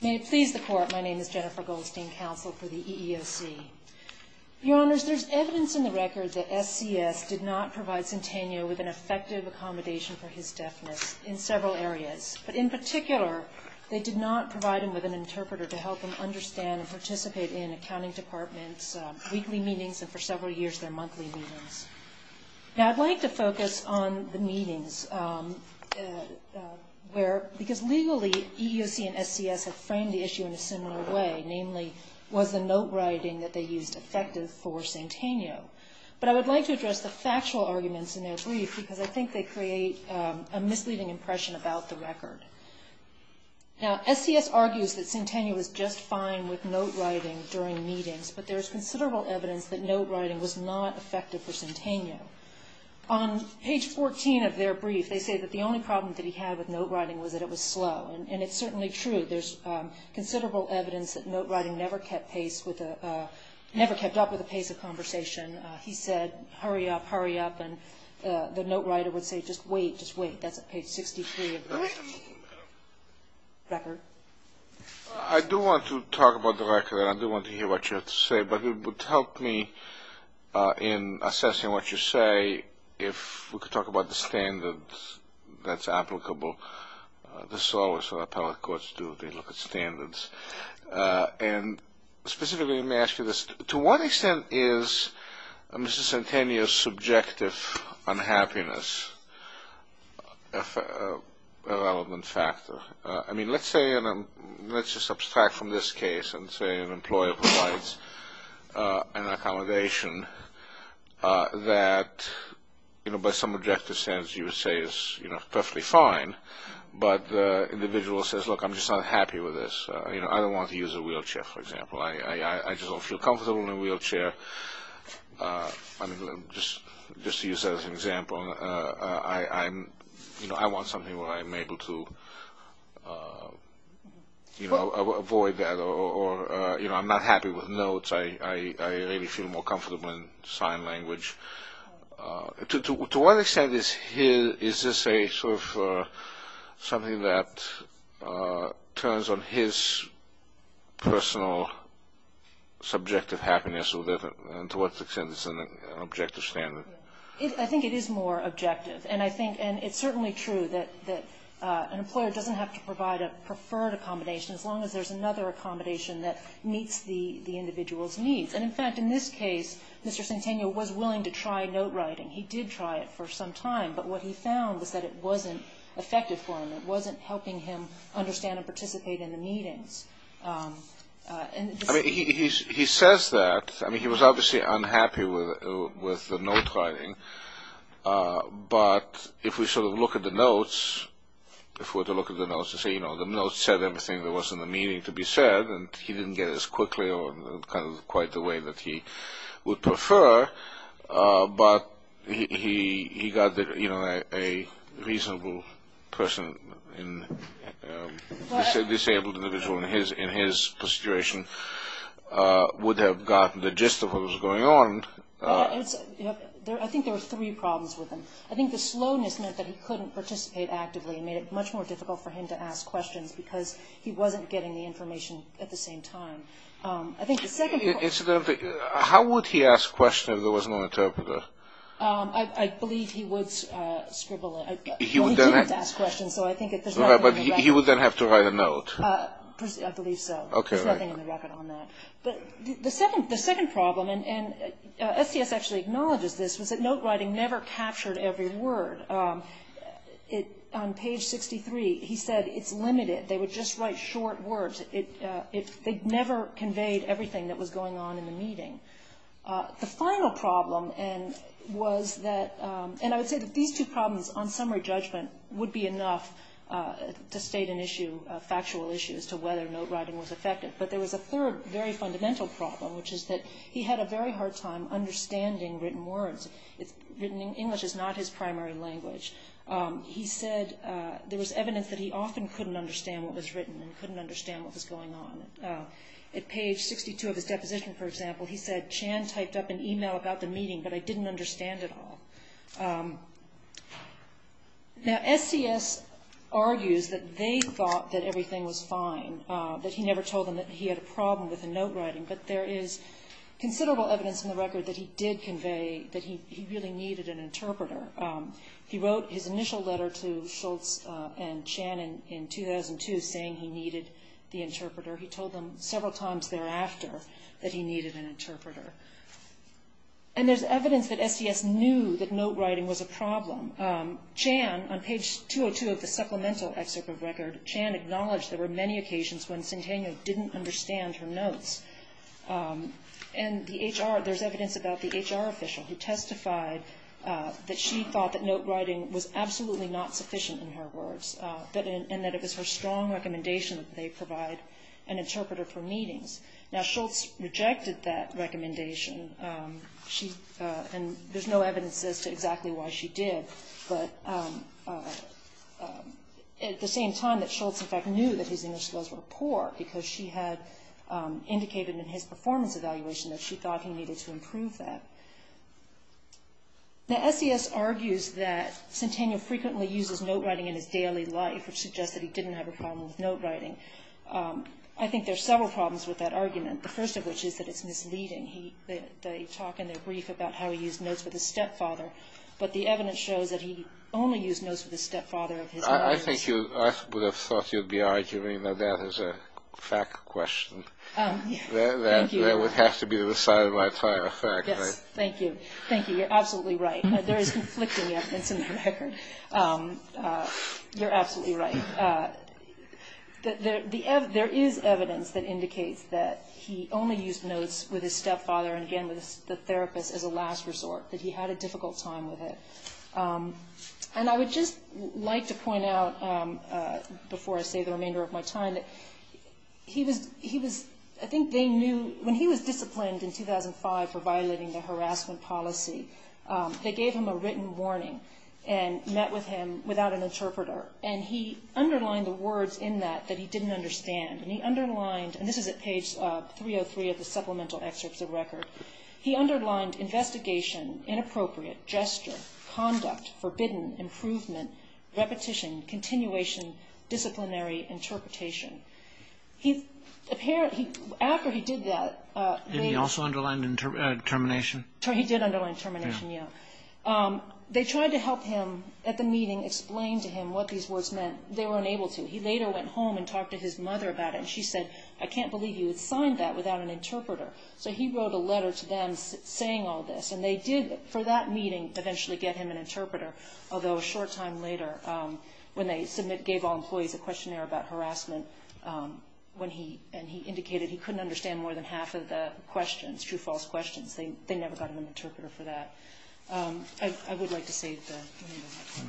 May it please the Court, my name is Jennifer Goldstein, Counsel for the EEOC. Your Honors, there is evidence in the record that SCS did not provide Centennial with an effective accommodation for his deafness in several areas. But in particular, they did not provide him with an interpreter to help him understand and participate in accounting department's weekly meetings and for several years their monthly meetings. Now I'd like to focus on the meetings because legally EEOC and SCS have framed the issue in a similar way, namely was the note writing that they used effective for Centennial? But I would like to address the factual arguments in their brief because I think they create a misleading impression about the record. Now SCS argues that Centennial was just fine with note writing during meetings, but there is considerable evidence that note writing was not effective for Centennial. On page 14 of their brief, they say that the only problem that he had with note writing was that it was slow, and it's certainly true. There's considerable evidence that note writing never kept up with the pace of conversation. He said, hurry up, hurry up, and the note writer would say just wait, just wait. That's page 63 of the record. I do want to talk about the record and I do want to hear what you have to say, but it would help me in assessing what you say if we could talk about the standards that's applicable. This is always what appellate courts do, they look at standards. Specifically, to what extent is Mr. Centennial's subjective unhappiness a relevant factor? Let's just subtract from this case and say an employer provides an accommodation that by some objective standards you would say is perfectly fine, but the individual says, look, I'm just not happy with this. I don't want to use a wheelchair, for example. I just don't feel comfortable in a wheelchair. Just to use that as an example, I want something where I'm able to avoid that, or I'm not happy with notes. I really feel more comfortable in sign language. To what extent is this something that turns on his personal subjective happiness, and to what extent is this an objective standard? I think it is more objective, and it's certainly true that an employer doesn't have to provide a preferred accommodation as long as there's another accommodation that meets the individual's needs. In fact, in this case, Mr. Centennial was willing to try note writing. He did try it for some time, but what he found was that it wasn't effective for him. It wasn't helping him understand and participate in the meetings. He says that. He was obviously unhappy with the note writing, but if we sort of look at the notes, the notes said everything that was in the meeting to be said, and he didn't get it as quickly or in quite the way that he would prefer, but he got that a reasonable person, a disabled individual in his situation, would have gotten the gist of what was going on. I think there were three problems with him. I think the slowness meant that he couldn't participate actively and made it much more difficult for him to ask questions because he wasn't getting the information at the same time. I think the second... Incidentally, how would he ask questions if there was no interpreter? I believe he would scribble. He didn't ask questions, so I think there's nothing in the record. Right, but he would then have to write a note. I believe so. Okay, right. There's nothing in the record on that. The second problem, and STS actually acknowledges this, was that note writing never captured every word. On page 63, he said it's limited. They would just write short words. They never conveyed everything that was going on in the meeting. The final problem was that... And I would say that these two problems on summary judgment would be enough to state an issue, a factual issue as to whether note writing was effective. But there was a third, very fundamental problem, which is that he had a very hard time understanding written words. English is not his primary language. He said there was evidence that he often couldn't understand what was written and couldn't understand what was going on. At page 62 of his deposition, for example, he said, Chan typed up an e-mail about the meeting, but I didn't understand it all. Now, STS argues that they thought that everything was fine, that he never told them that he had a problem with the note writing, but there is considerable evidence in the record that he did convey that he really needed an interpreter. He wrote his initial letter to Schultz and Chan in 2002 saying he needed the interpreter. He told them several times thereafter that he needed an interpreter. And there's evidence that STS knew that note writing was a problem. Chan, on page 202 of the supplemental excerpt of record, Chan acknowledged there were many occasions when Centennial didn't understand her notes. And there's evidence about the HR official who testified that she thought that note writing was absolutely not sufficient in her words, and that it was her strong recommendation that they provide an interpreter for meetings. Now, Schultz rejected that recommendation, and there's no evidence as to exactly why she did. But at the same time that Schultz, in fact, knew that his English skills were poor because she had indicated in his performance evaluation that she thought he needed to improve that. Now, STS argues that Centennial frequently uses note writing in his daily life, which suggests that he didn't have a problem with note writing. I think there are several problems with that argument, the first of which is that it's misleading. They talk in their brief about how he used notes with his stepfather, but the evidence shows that he only used notes with his stepfather. I would have thought you'd be arguing that that is a fact question. Thank you. That would have to be the side of my tire, a fact, right? Yes, thank you. Thank you. You're absolutely right. There is conflicting evidence in the record. You're absolutely right. There is evidence that indicates that he only used notes with his stepfather, and again with the therapist as a last resort, that he had a difficult time with it. And I would just like to point out, before I save the remainder of my time, that when he was disciplined in 2005 for violating the harassment policy, they gave him a written warning and met with him without an interpreter, and he underlined the words in that that he didn't understand. And he underlined, and this is at page 303 of the supplemental excerpts of the record, he underlined investigation, inappropriate, gesture, conduct, forbidden, improvement, repetition, continuation, disciplinary, interpretation. After he did that, later... And he also underlined termination? He did underline termination, yes. They tried to help him at the meeting explain to him what these words meant. They were unable to. He later went home and talked to his mother about it, and she said, I can't believe you had signed that without an interpreter. So he wrote a letter to them saying all this. And they did, for that meeting, eventually get him an interpreter, although a short time later, when they gave all employees a questionnaire about harassment, and he indicated he couldn't understand more than half of the questions, true-false questions, they never got him an interpreter for that. I would like to save that.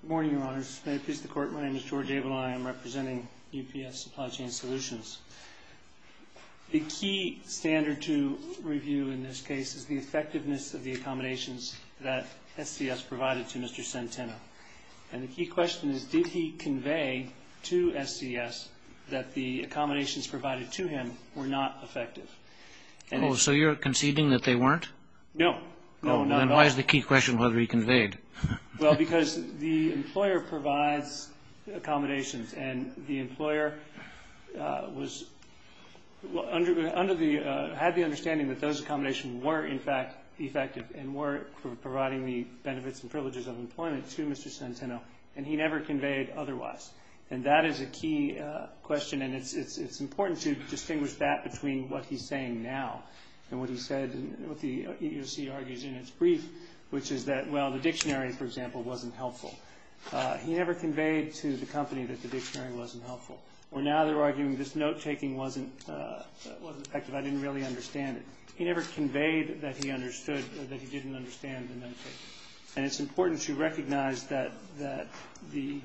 Good morning, Your Honors. May it please the Court, my name is George Abel, and I am representing UPS Supply Chain Solutions. The key standard to review in this case is the effectiveness of the accommodations that SCS provided to Mr. Centeno. And the key question is, did he convey to SCS that the accommodations provided to him were not effective? So you're conceding that they weren't? No. Then why is the key question whether he conveyed? Well, because the employer provides accommodations, and the employer had the understanding that those accommodations were, in fact, effective and were providing the benefits and privileges of employment to Mr. Centeno, and he never conveyed otherwise. And that is a key question, and it's important to distinguish that between what he's saying now and what he said, what the EEOC argues in its brief, which is that, well, the dictionary, for example, wasn't helpful. He never conveyed to the company that the dictionary wasn't helpful. Or now they're arguing this note-taking wasn't effective, I didn't really understand it. He never conveyed that he understood or that he didn't understand the note-taking. And it's important to recognize that the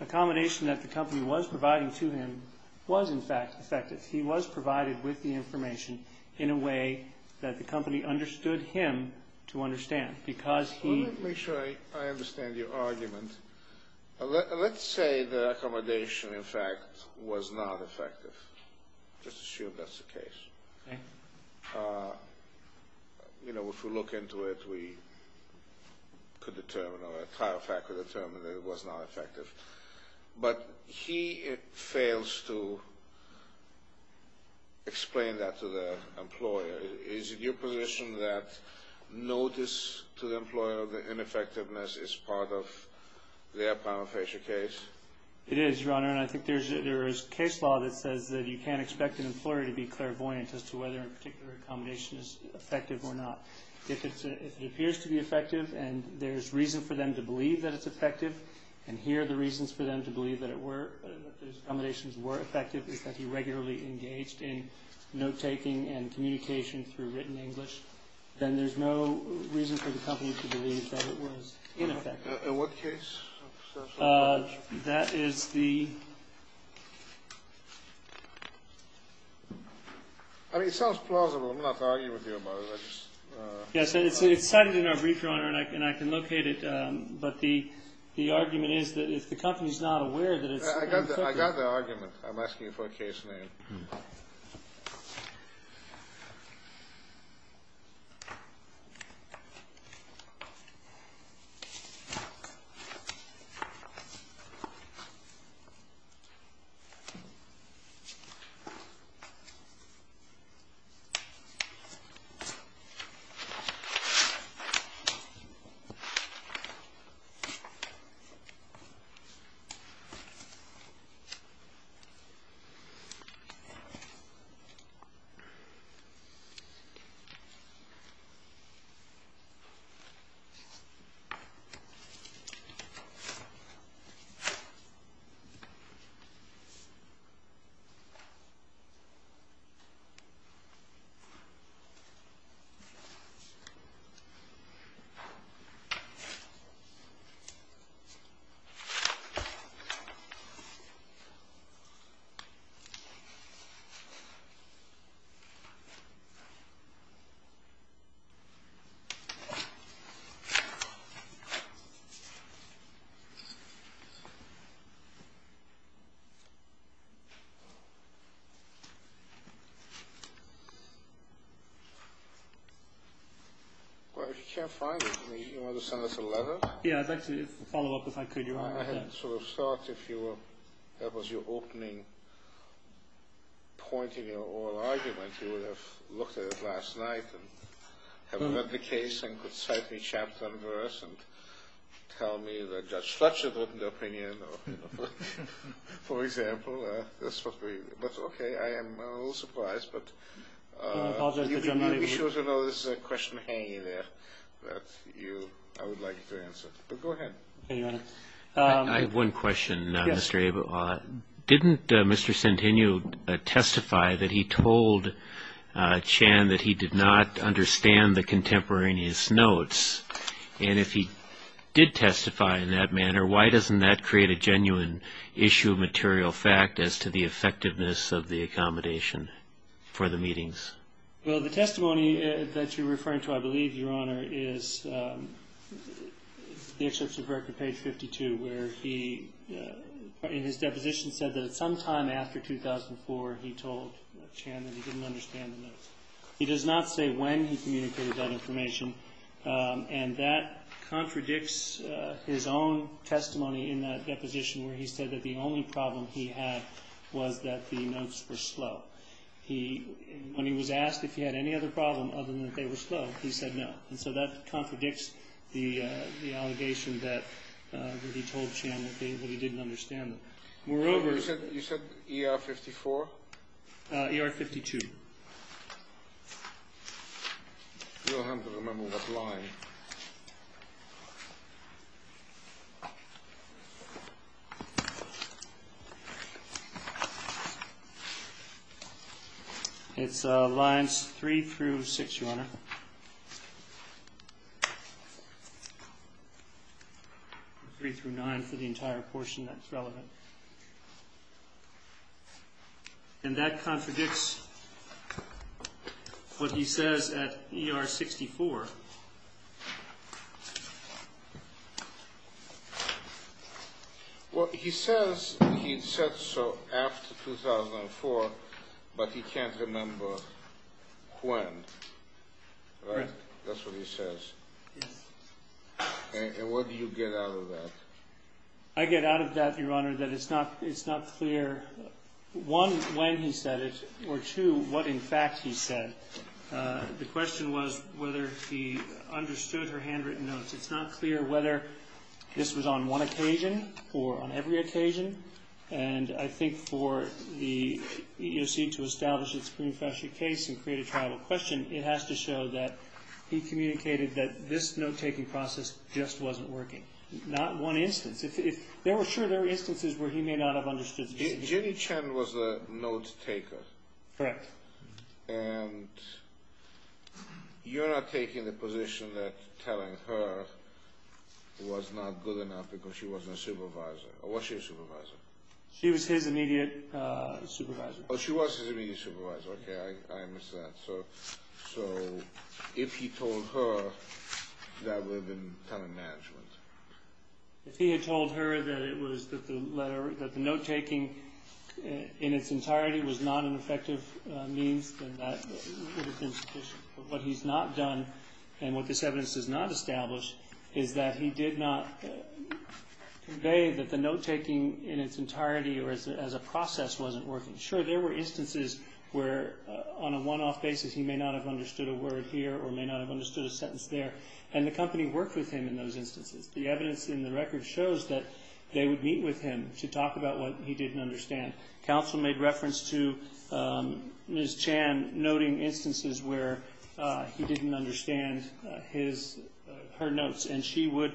accommodation that the company was providing to him was, in fact, effective. He was provided with the information in a way that the company understood him to understand, because he Let me make sure I understand your argument. Let's say the accommodation, in fact, was not effective. Let's assume that's the case. Okay. You know, if we look into it, we could determine, or a tire factor could determine that it was not effective. But he fails to explain that to the employer. Is it your position that notice to the employer of the ineffectiveness is part of their prima facie case? It is, Your Honor. And I think there is case law that says that you can't expect an employer to be clairvoyant as to whether a particular accommodation is effective or not. If it appears to be effective, and there's reason for them to believe that it's effective, and here are the reasons for them to believe that it were, that his accommodations were effective, is that he regularly engaged in note-taking and communication through written English, then there's no reason for the company to believe that it was ineffective. In what case? That is the I mean, it sounds plausible. I'm not arguing with you about it. I just Yes, it's cited in our brief, Your Honor, and I can locate it. But the argument is that if the company is not aware that it's I can't locate it. Okay. Well, if you can't find it, do you want to send us a letter? Yeah, it's actually a follow-up, if I could, Your Honor. I had sort of thought if you were, that was your opening point in your oral argument, you would have looked at it last night and have read the case and could cite each chapter and verse and tell me that Judge Fletcher opened the opinion, for example. That's what we, but okay, I am a little surprised. But I apologize, Your Honor. You can be sure to know this is a question hanging there that you, I would like to answer. But go ahead. Okay, Your Honor. I have one question, Mr. Abel. Yes. Didn't Mr. Centennial testify that he told Chan that he did not understand the contemporaneous notes? And if he did testify in that manner, why doesn't that create a genuine issue of material fact as to the effectiveness of the accommodation for the meetings? Well, the testimony that you're referring to, I believe, Your Honor, is the excerpts of record, page 52, where he, in his deposition, said that at some time after 2004, he told Chan that he didn't understand the notes. He does not say when he communicated that information, and that contradicts his own testimony in that deposition where he said that the only problem he had was that the notes were slow. When he was asked if he had any other problem other than that they were slow, he said no. And so that contradicts the allegation that he told Chan that he didn't understand them. Moreover, You said ER 54? ER 52. You'll have to remember that line. It's lines 3 through 6, Your Honor. 3 through 9 for the entire portion that's relevant. And that contradicts what he says at ER 64. Well, he says he said so after 2004, but he can't remember when. Right. That's what he says. Yes. And what do you get out of that? I get out of that, Your Honor, that it's not clear, one, when he said it, or, two, what, in fact, he said. The question was whether he understood her handwritten notes. It's not clear whether this was on one occasion or on every occasion, and I think for the EEOC to establish its pre-nuffracture case and create a trial question, it has to show that he communicated that this note-taking process just wasn't working. Not one instance. If there were, sure, there were instances where he may not have understood. Jenny Chen was a note-taker. Correct. And you're not taking the position that telling her was not good enough because she wasn't a supervisor. Or was she a supervisor? She was his immediate supervisor. Oh, she was his immediate supervisor. Okay, I missed that. So if he told her, that would have been kind of management. If he had told her that the note-taking in its entirety was not an effective means, then that would have been sufficient. But what he's not done, and what this evidence does not establish, is that he did not convey that the note-taking in its entirety or as a process wasn't working. Sure, there were instances where on a one-off basis he may not have understood a word here or may not have understood a sentence there, and the company worked with him in those instances. The evidence in the record shows that they would meet with him to talk about what he didn't understand. Counsel made reference to Ms. Chen noting instances where he didn't understand her notes, and she would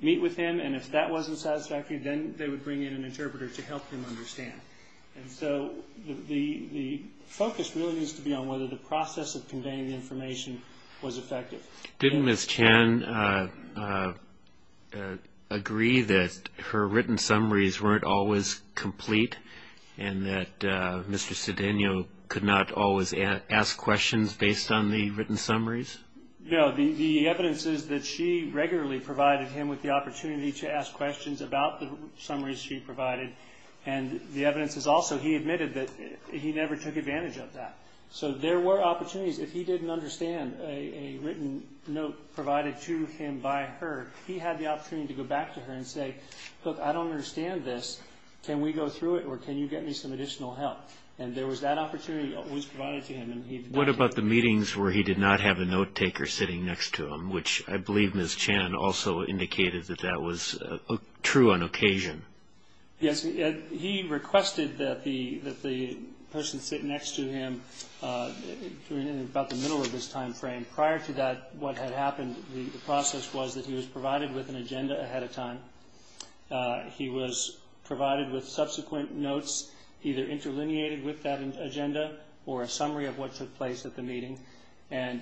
meet with him, and if that wasn't satisfactory, then they would bring in an interpreter to help him understand. And so the focus really needs to be on whether the process of conveying the information was effective. Didn't Ms. Chen agree that her written summaries weren't always complete and that Mr. Cedeno could not always ask questions based on the written summaries? No. The evidence is that she regularly provided him with the opportunity to ask questions about the summaries she provided, and the evidence is also he admitted that he never took advantage of that. So there were opportunities. If he didn't understand a written note provided to him by her, he had the opportunity to go back to her and say, look, I don't understand this, can we go through it or can you get me some additional help? And there was that opportunity that was provided to him. What about the meetings where he did not have a note-taker sitting next to him, which I believe Ms. Chen also indicated that that was true on occasion? Yes. He requested that the person sit next to him in about the middle of his time frame. Prior to that, what had happened, the process was that he was provided with an agenda ahead of time. He was provided with subsequent notes either interlineated with that agenda or a summary of what took place at the meeting, and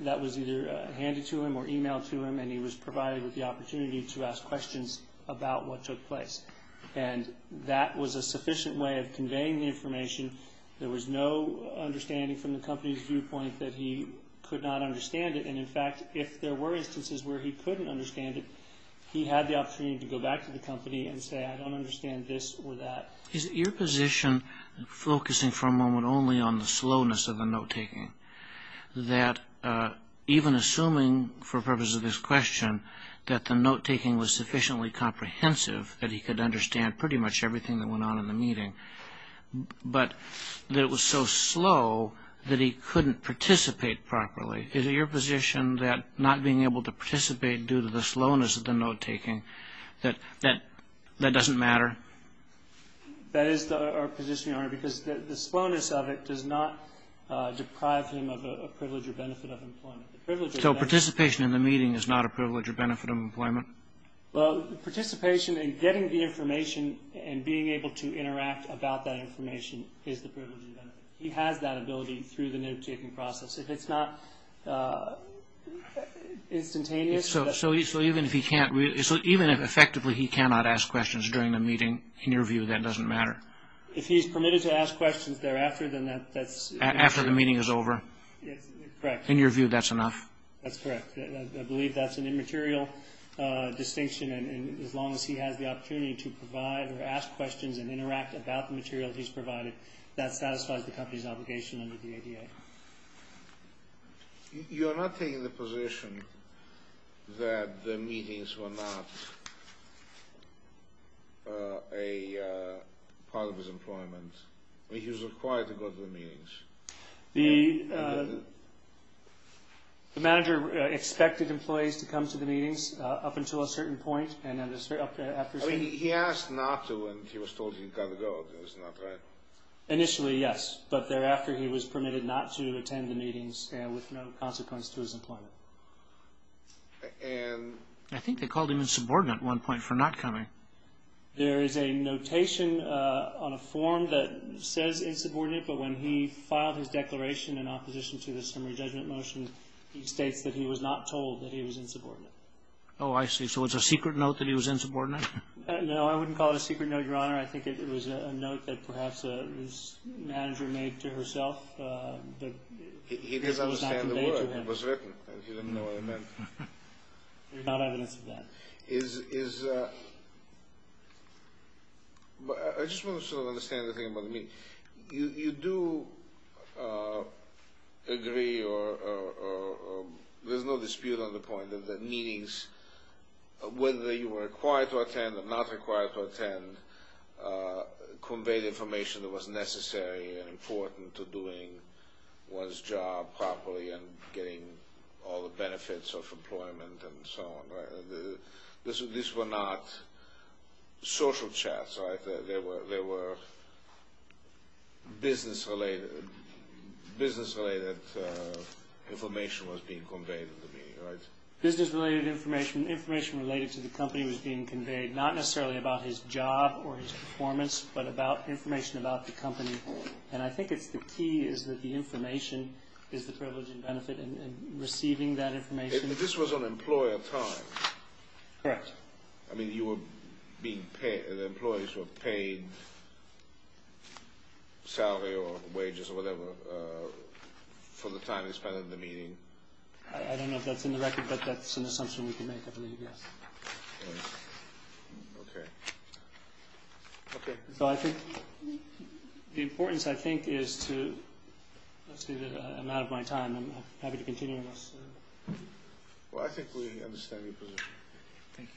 that was either handed to him or emailed to him, and he was provided with the opportunity to ask questions about what took place. And that was a sufficient way of conveying the information. There was no understanding from the company's viewpoint that he could not understand it, and in fact, if there were instances where he couldn't understand it, he had the opportunity to go back to the company and say, I don't understand this or that. Is it your position, focusing for a moment only on the slowness of the note-taking, that even assuming, for the purpose of this question, that the note-taking was sufficiently comprehensive that he could understand pretty much everything that went on in the meeting, but that it was so slow that he couldn't participate properly? Is it your position that not being able to participate due to the slowness of the note-taking, that that doesn't matter? That is our position, Your Honor, because the slowness of it does not deprive him of a privilege or benefit of employment. So participation in the meeting is not a privilege or benefit of employment? Well, participation in getting the information and being able to interact about that information is the privilege or benefit. He has that ability through the note-taking process. If it's not instantaneous... So even if effectively he cannot ask questions during the meeting, in your view, that doesn't matter? If he's permitted to ask questions thereafter, then that's... After the meeting is over? Correct. In your view, that's enough? That's correct. I believe that's an immaterial distinction, and as long as he has the opportunity to provide or ask questions and interact about the material he's provided, that satisfies the company's obligation under the ADA. You're not taking the position that the meetings were not a part of his employment? He was required to go to the meetings? The manager expected employees to come to the meetings up until a certain point, and then after a certain point... He asked not to, and he was told he got to go. That's not right? Initially, yes, but thereafter he was permitted not to attend the meetings with no consequence to his employment. I think they called him insubordinate at one point for not coming. There is a notation on a form that says insubordinate, but when he filed his declaration in opposition to the summary judgment motion, he states that he was not told that he was insubordinate. Oh, I see. So it's a secret note that he was insubordinate? No, I wouldn't call it a secret note, Your Honor. I think it was a note that perhaps his manager made to herself, but it was not conveyed to him. He didn't understand the word. It was written, and he didn't know what it meant. There's not evidence of that. I just want to sort of understand the thing about the meeting. You do agree, or there's no dispute on the point, that the meetings, whether you were required to attend or not required to attend, conveyed information that was necessary and important to doing one's job properly and getting all the benefits of employment and so on, right? These were not social chats, right? There were business-related information was being conveyed in the meeting, right? Business-related information. Information related to the company was being conveyed, not necessarily about his job or his performance, but about information about the company, and I think it's the key is that the information is the privilege and benefit in receiving that information. This was on employer time. Correct. I mean, the employees were paid salary or wages or whatever for the time they spent at the meeting. I don't know if that's in the record, but that's an assumption we can make, I believe, yes. Okay. Okay. So I think the importance, I think, is to I'm out of my time. I'm happy to continue. Well, I think we understand your position. Thank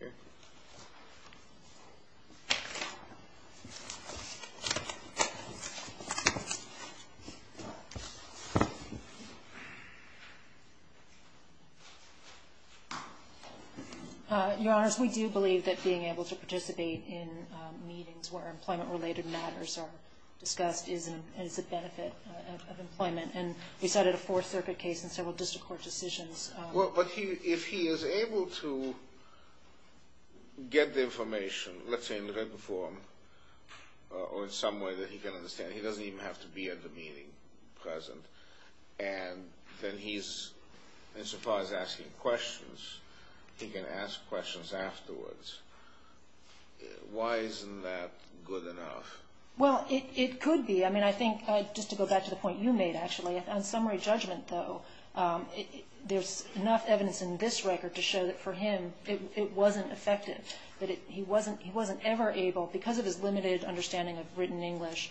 you. Okay. Your Honors, we do believe that being able to participate in meetings where employment-related matters are discussed is a benefit of employment, and we cited a Fourth Circuit case and several district court decisions. Well, but if he is able to get the information, let's say in written form, or in some way that he can understand, he doesn't even have to be at the meeting present, and then he's, insofar as asking questions, he can ask questions afterwards. Why isn't that good enough? Well, it could be. I mean, I think, just to go back to the point you made, actually, on summary judgment, though, there's enough evidence in this record to show that for him it wasn't effective, that he wasn't ever able, because of his limited understanding of written English,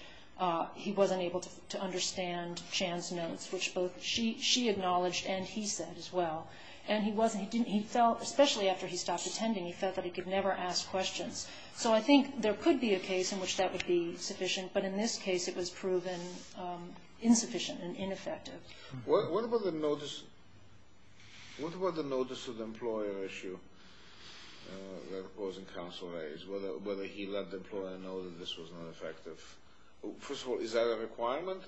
he wasn't able to understand Chan's notes, which both she acknowledged and he said as well. And he felt, especially after he stopped attending, he felt that he could never ask questions. So I think there could be a case in which that would be sufficient, but in this case it was proven insufficient and ineffective. What about the notice of the employer issue that was in Council A's, whether he let the employer know that this was not effective? First of all, is that a requirement?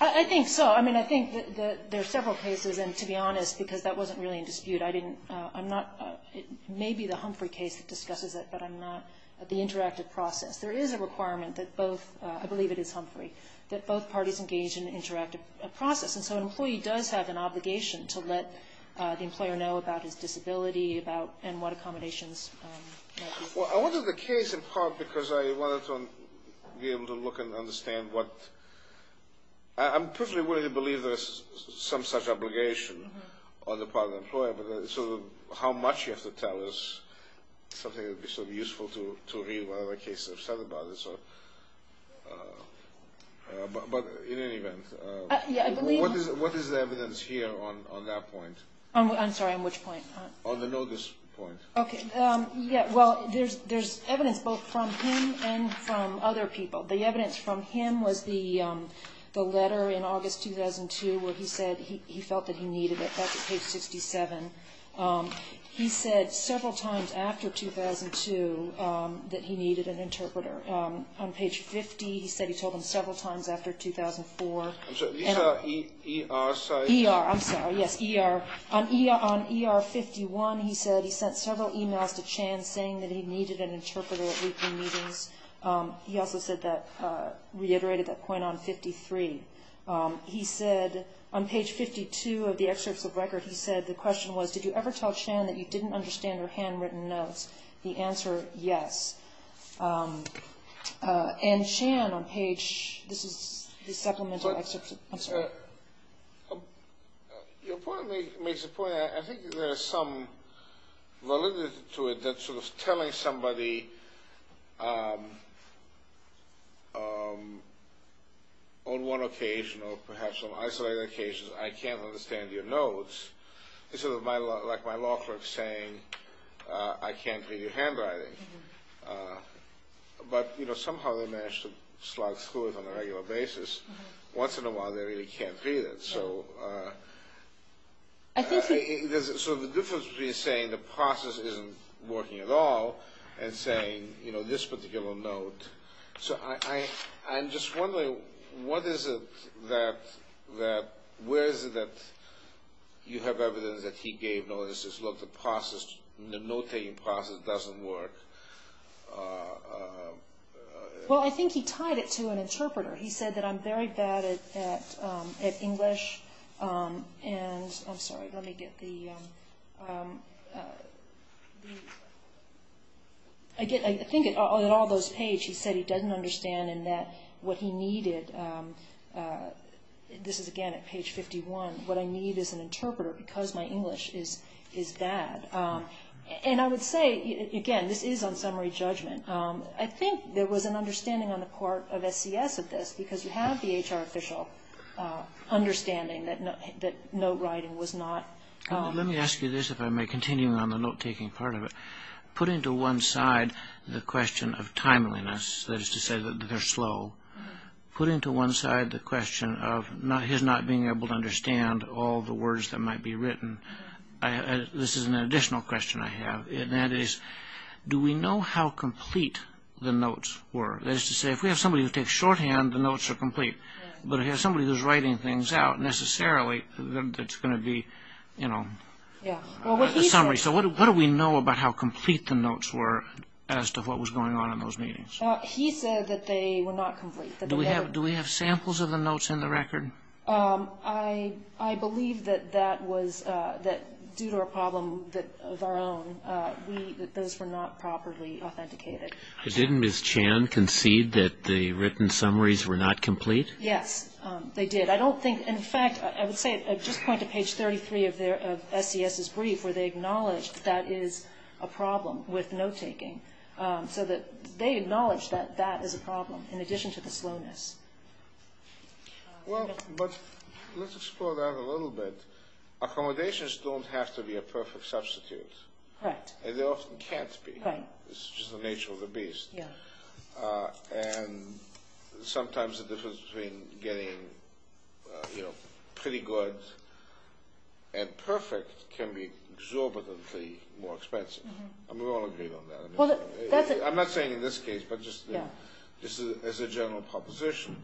I think so. I mean, I think there are several cases, and to be honest, because that wasn't really in dispute. I didn't, I'm not, it may be the Humphrey case that discusses it, but I'm not, the interactive process. There is a requirement that both, I believe it is Humphrey, that both parties engage in an interactive process. And so an employee does have an obligation to let the employer know about his disability and what accommodations might be. Well, I wanted the case in part because I wanted to be able to look and understand what, I'm perfectly willing to believe there's some such obligation on the part of the employer, but so how much you have to tell is something that would be sort of useful to read what other cases have said about this. But in any event, what is the evidence here on that point? I'm sorry, on which point? On the notice point. Okay. Yeah, well, there's evidence both from him and from other people. The evidence from him was the letter in August 2002 where he said he felt that he needed it. That's at page 67. He said several times after 2002 that he needed an interpreter. On page 50 he said he told them several times after 2004. I'm sorry, these are ER, sorry? ER, I'm sorry, yes, ER. On ER 51 he said he sent several emails to Chan saying that he needed an interpreter at weekly meetings. He also said that, reiterated that point on 53. He said on page 52 of the excerpts of record he said the question was, did you ever tell Chan that you didn't understand her handwritten notes? The answer, yes. And Chan on page, this is the supplemental excerpt. I'm sorry. Your point makes a point. I think there is some validity to it that sort of telling somebody on one occasion or perhaps on isolated occasions I can't understand your notes is sort of like my law clerk saying I can't read your handwriting. But, you know, somehow they manage to slide through it on a regular basis. Once in a while they really can't read it. So the difference between saying the process isn't working at all and saying, you know, this particular note. So I'm just wondering what is it that, where is it that you have evidence that he gave notices, look, the process, the note-taking process doesn't work. Well, I think he tied it to an interpreter. He said that I'm very bad at English and, I'm sorry, let me get the, I think in all those pages he said he doesn't understand and that what he needed, this is again at page 51, what I need is an interpreter because my English is bad. And I would say, again, this is on summary judgment. I think there was an understanding on the part of SCS of this because you have the HR official understanding that note-writing was not. Let me ask you this, if I may, continuing on the note-taking part of it. Putting to one side the question of timeliness, that is to say that they're slow, putting to one side the question of his not being able to understand all the words that might be written, this is an additional question I have, and that is, do we know how complete the notes were? That is to say, if we have somebody who takes shorthand, the notes are complete. But if we have somebody who's writing things out, necessarily, it's going to be a summary. So what do we know about how complete the notes were as to what was going on in those meetings? He said that they were not complete. Do we have samples of the notes in the record? I believe that that was due to a problem of our own. Those were not properly authenticated. Didn't Ms. Chan concede that the written summaries were not complete? Yes, they did. In fact, I would say, just point to page 33 of SCS's brief, where they acknowledged that is a problem with note-taking. So they acknowledged that that is a problem in addition to the slowness. Let's explore that a little bit. Accommodations don't have to be a perfect substitute. They often can't be. It's just the nature of the beast. Sometimes the difference between getting pretty good and perfect can be exorbitantly more expensive. We all agree on that. I'm not saying in this case, but just as a general proposition.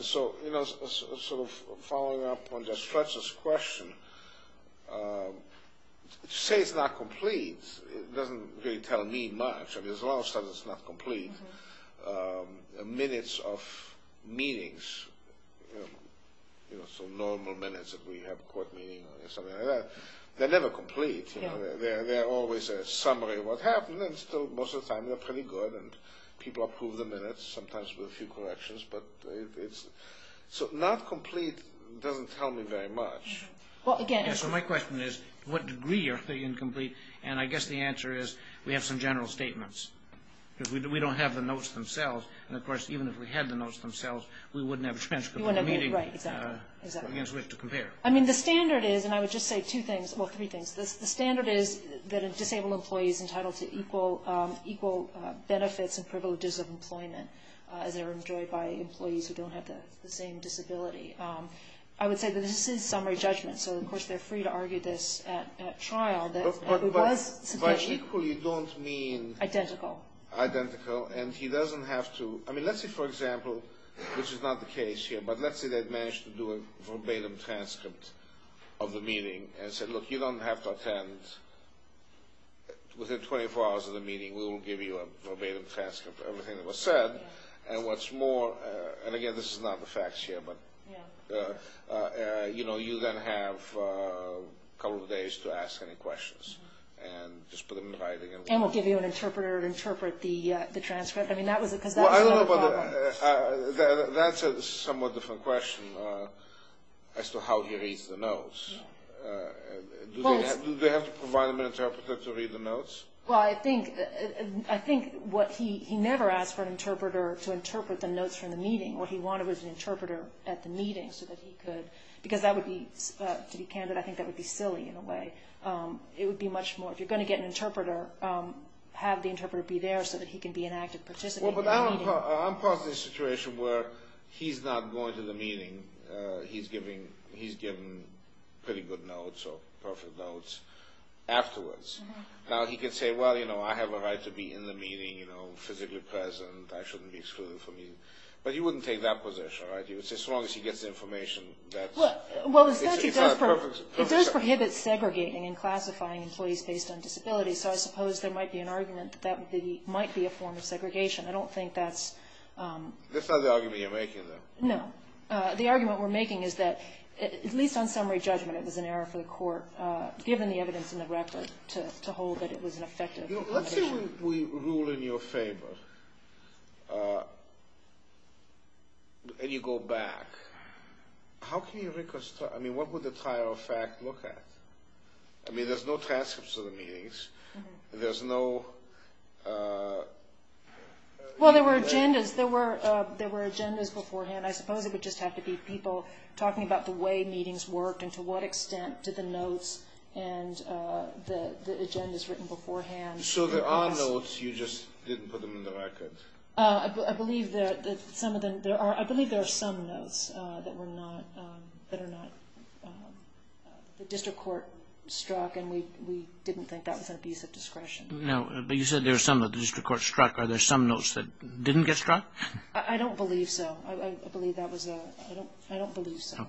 So following up on Judge Fletcher's question, to say it's not complete doesn't really tell me much. A lot of times it's not complete. Minutes of meetings, so normal minutes that we have, court meetings or something like that, they're never complete. They're always a summary of what happened, and still most of the time they're pretty good. People approve the minutes, sometimes with a few corrections. So not complete doesn't tell me very much. So my question is, to what degree are they incomplete? And I guess the answer is we have some general statements, because we don't have the notes themselves. And, of course, even if we had the notes themselves, we wouldn't have a transcript of the meeting against which to compare. I mean, the standard is, and I would just say two things, well, three things. The standard is that a disabled employee is entitled to equal benefits and privileges of employment, as they're enjoyed by employees who don't have the same disability. I would say that this is summary judgment. So, of course, they're free to argue this at trial. But by equal you don't mean? Identical. Identical, and he doesn't have to. I mean, let's say, for example, which is not the case here, but let's say they've managed to do a verbatim transcript of the meeting and said, look, you don't have to attend. Within 24 hours of the meeting we will give you a verbatim transcript of everything that was said. And what's more, and, again, this is not the facts here, but you know, you then have a couple of days to ask any questions. And just put them in writing. And we'll give you an interpreter to interpret the transcript? I mean, because that's another problem. That's a somewhat different question as to how he reads the notes. Do they have to provide him an interpreter to read the notes? Well, I think what he never asked for an interpreter to interpret the notes from the meeting. What he wanted was an interpreter at the meeting so that he could, because that would be, to be candid, I think that would be silly in a way. It would be much more, if you're going to get an interpreter, have the interpreter be there so that he can be an active participant. Well, but I'm part of the situation where he's not going to the meeting. He's given pretty good notes or perfect notes afterwards. Now, he can say, well, you know, I have a right to be in the meeting, physically present, I shouldn't be excluded from meetings. But he wouldn't take that position, right? He would say as long as he gets the information. It does prohibit segregating and classifying employees based on disability, so I suppose there might be an argument that that might be a form of segregation. I don't think that's... That's not the argument you're making, though. No. The argument we're making is that, at least on summary judgment, it was an error for the court, given the evidence in the record, to hold that it was an effective position. Let's say we rule in your favor, and you go back. How can you reconstruct, I mean, what would the trial of fact look at? I mean, there's no transcripts of the meetings. There's no... Well, there were agendas. There were agendas beforehand. I suppose it would just have to be people talking about the way meetings worked and to what extent did the notes and the agendas written beforehand. So there are notes, you just didn't put them in the record. I believe there are some notes that are not... The district court struck, and we didn't think that was an abuse of discretion. No, but you said there are some that the district court struck. Are there some notes that didn't get struck? I don't believe so. I believe that was a... I don't believe so.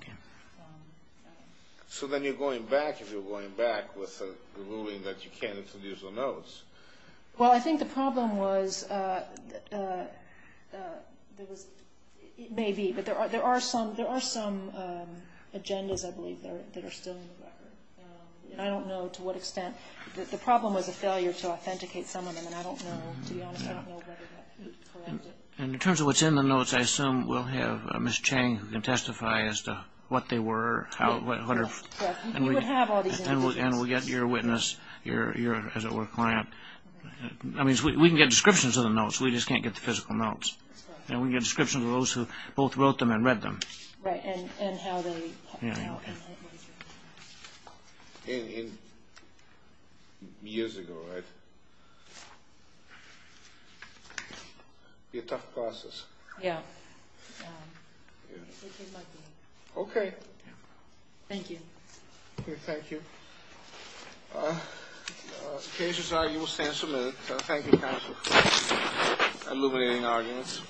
So then you're going back, if you're going back, with the ruling that you can't introduce the notes. Well, I think the problem was, it may be, but there are some agendas, I believe, that are still in the record. I don't know to what extent. The problem was a failure to authenticate some of them, and I don't know, to be honest, I don't know whether that corrects it. And in terms of what's in the notes, I assume we'll have Ms. Chang who can testify as to what they were. Right. You would have all these... And we'll get your witness, your, as it were, client. I mean, we can get descriptions of the notes. We just can't get the physical notes. And we can get descriptions of those who both wrote them and read them. Right, and how they... Years ago, right? Be a tough process. Yeah. Okay. Thank you. Okay, thank you. In case you're sorry, you will stand submitted. Thank you, counsel. Illuminating arguments.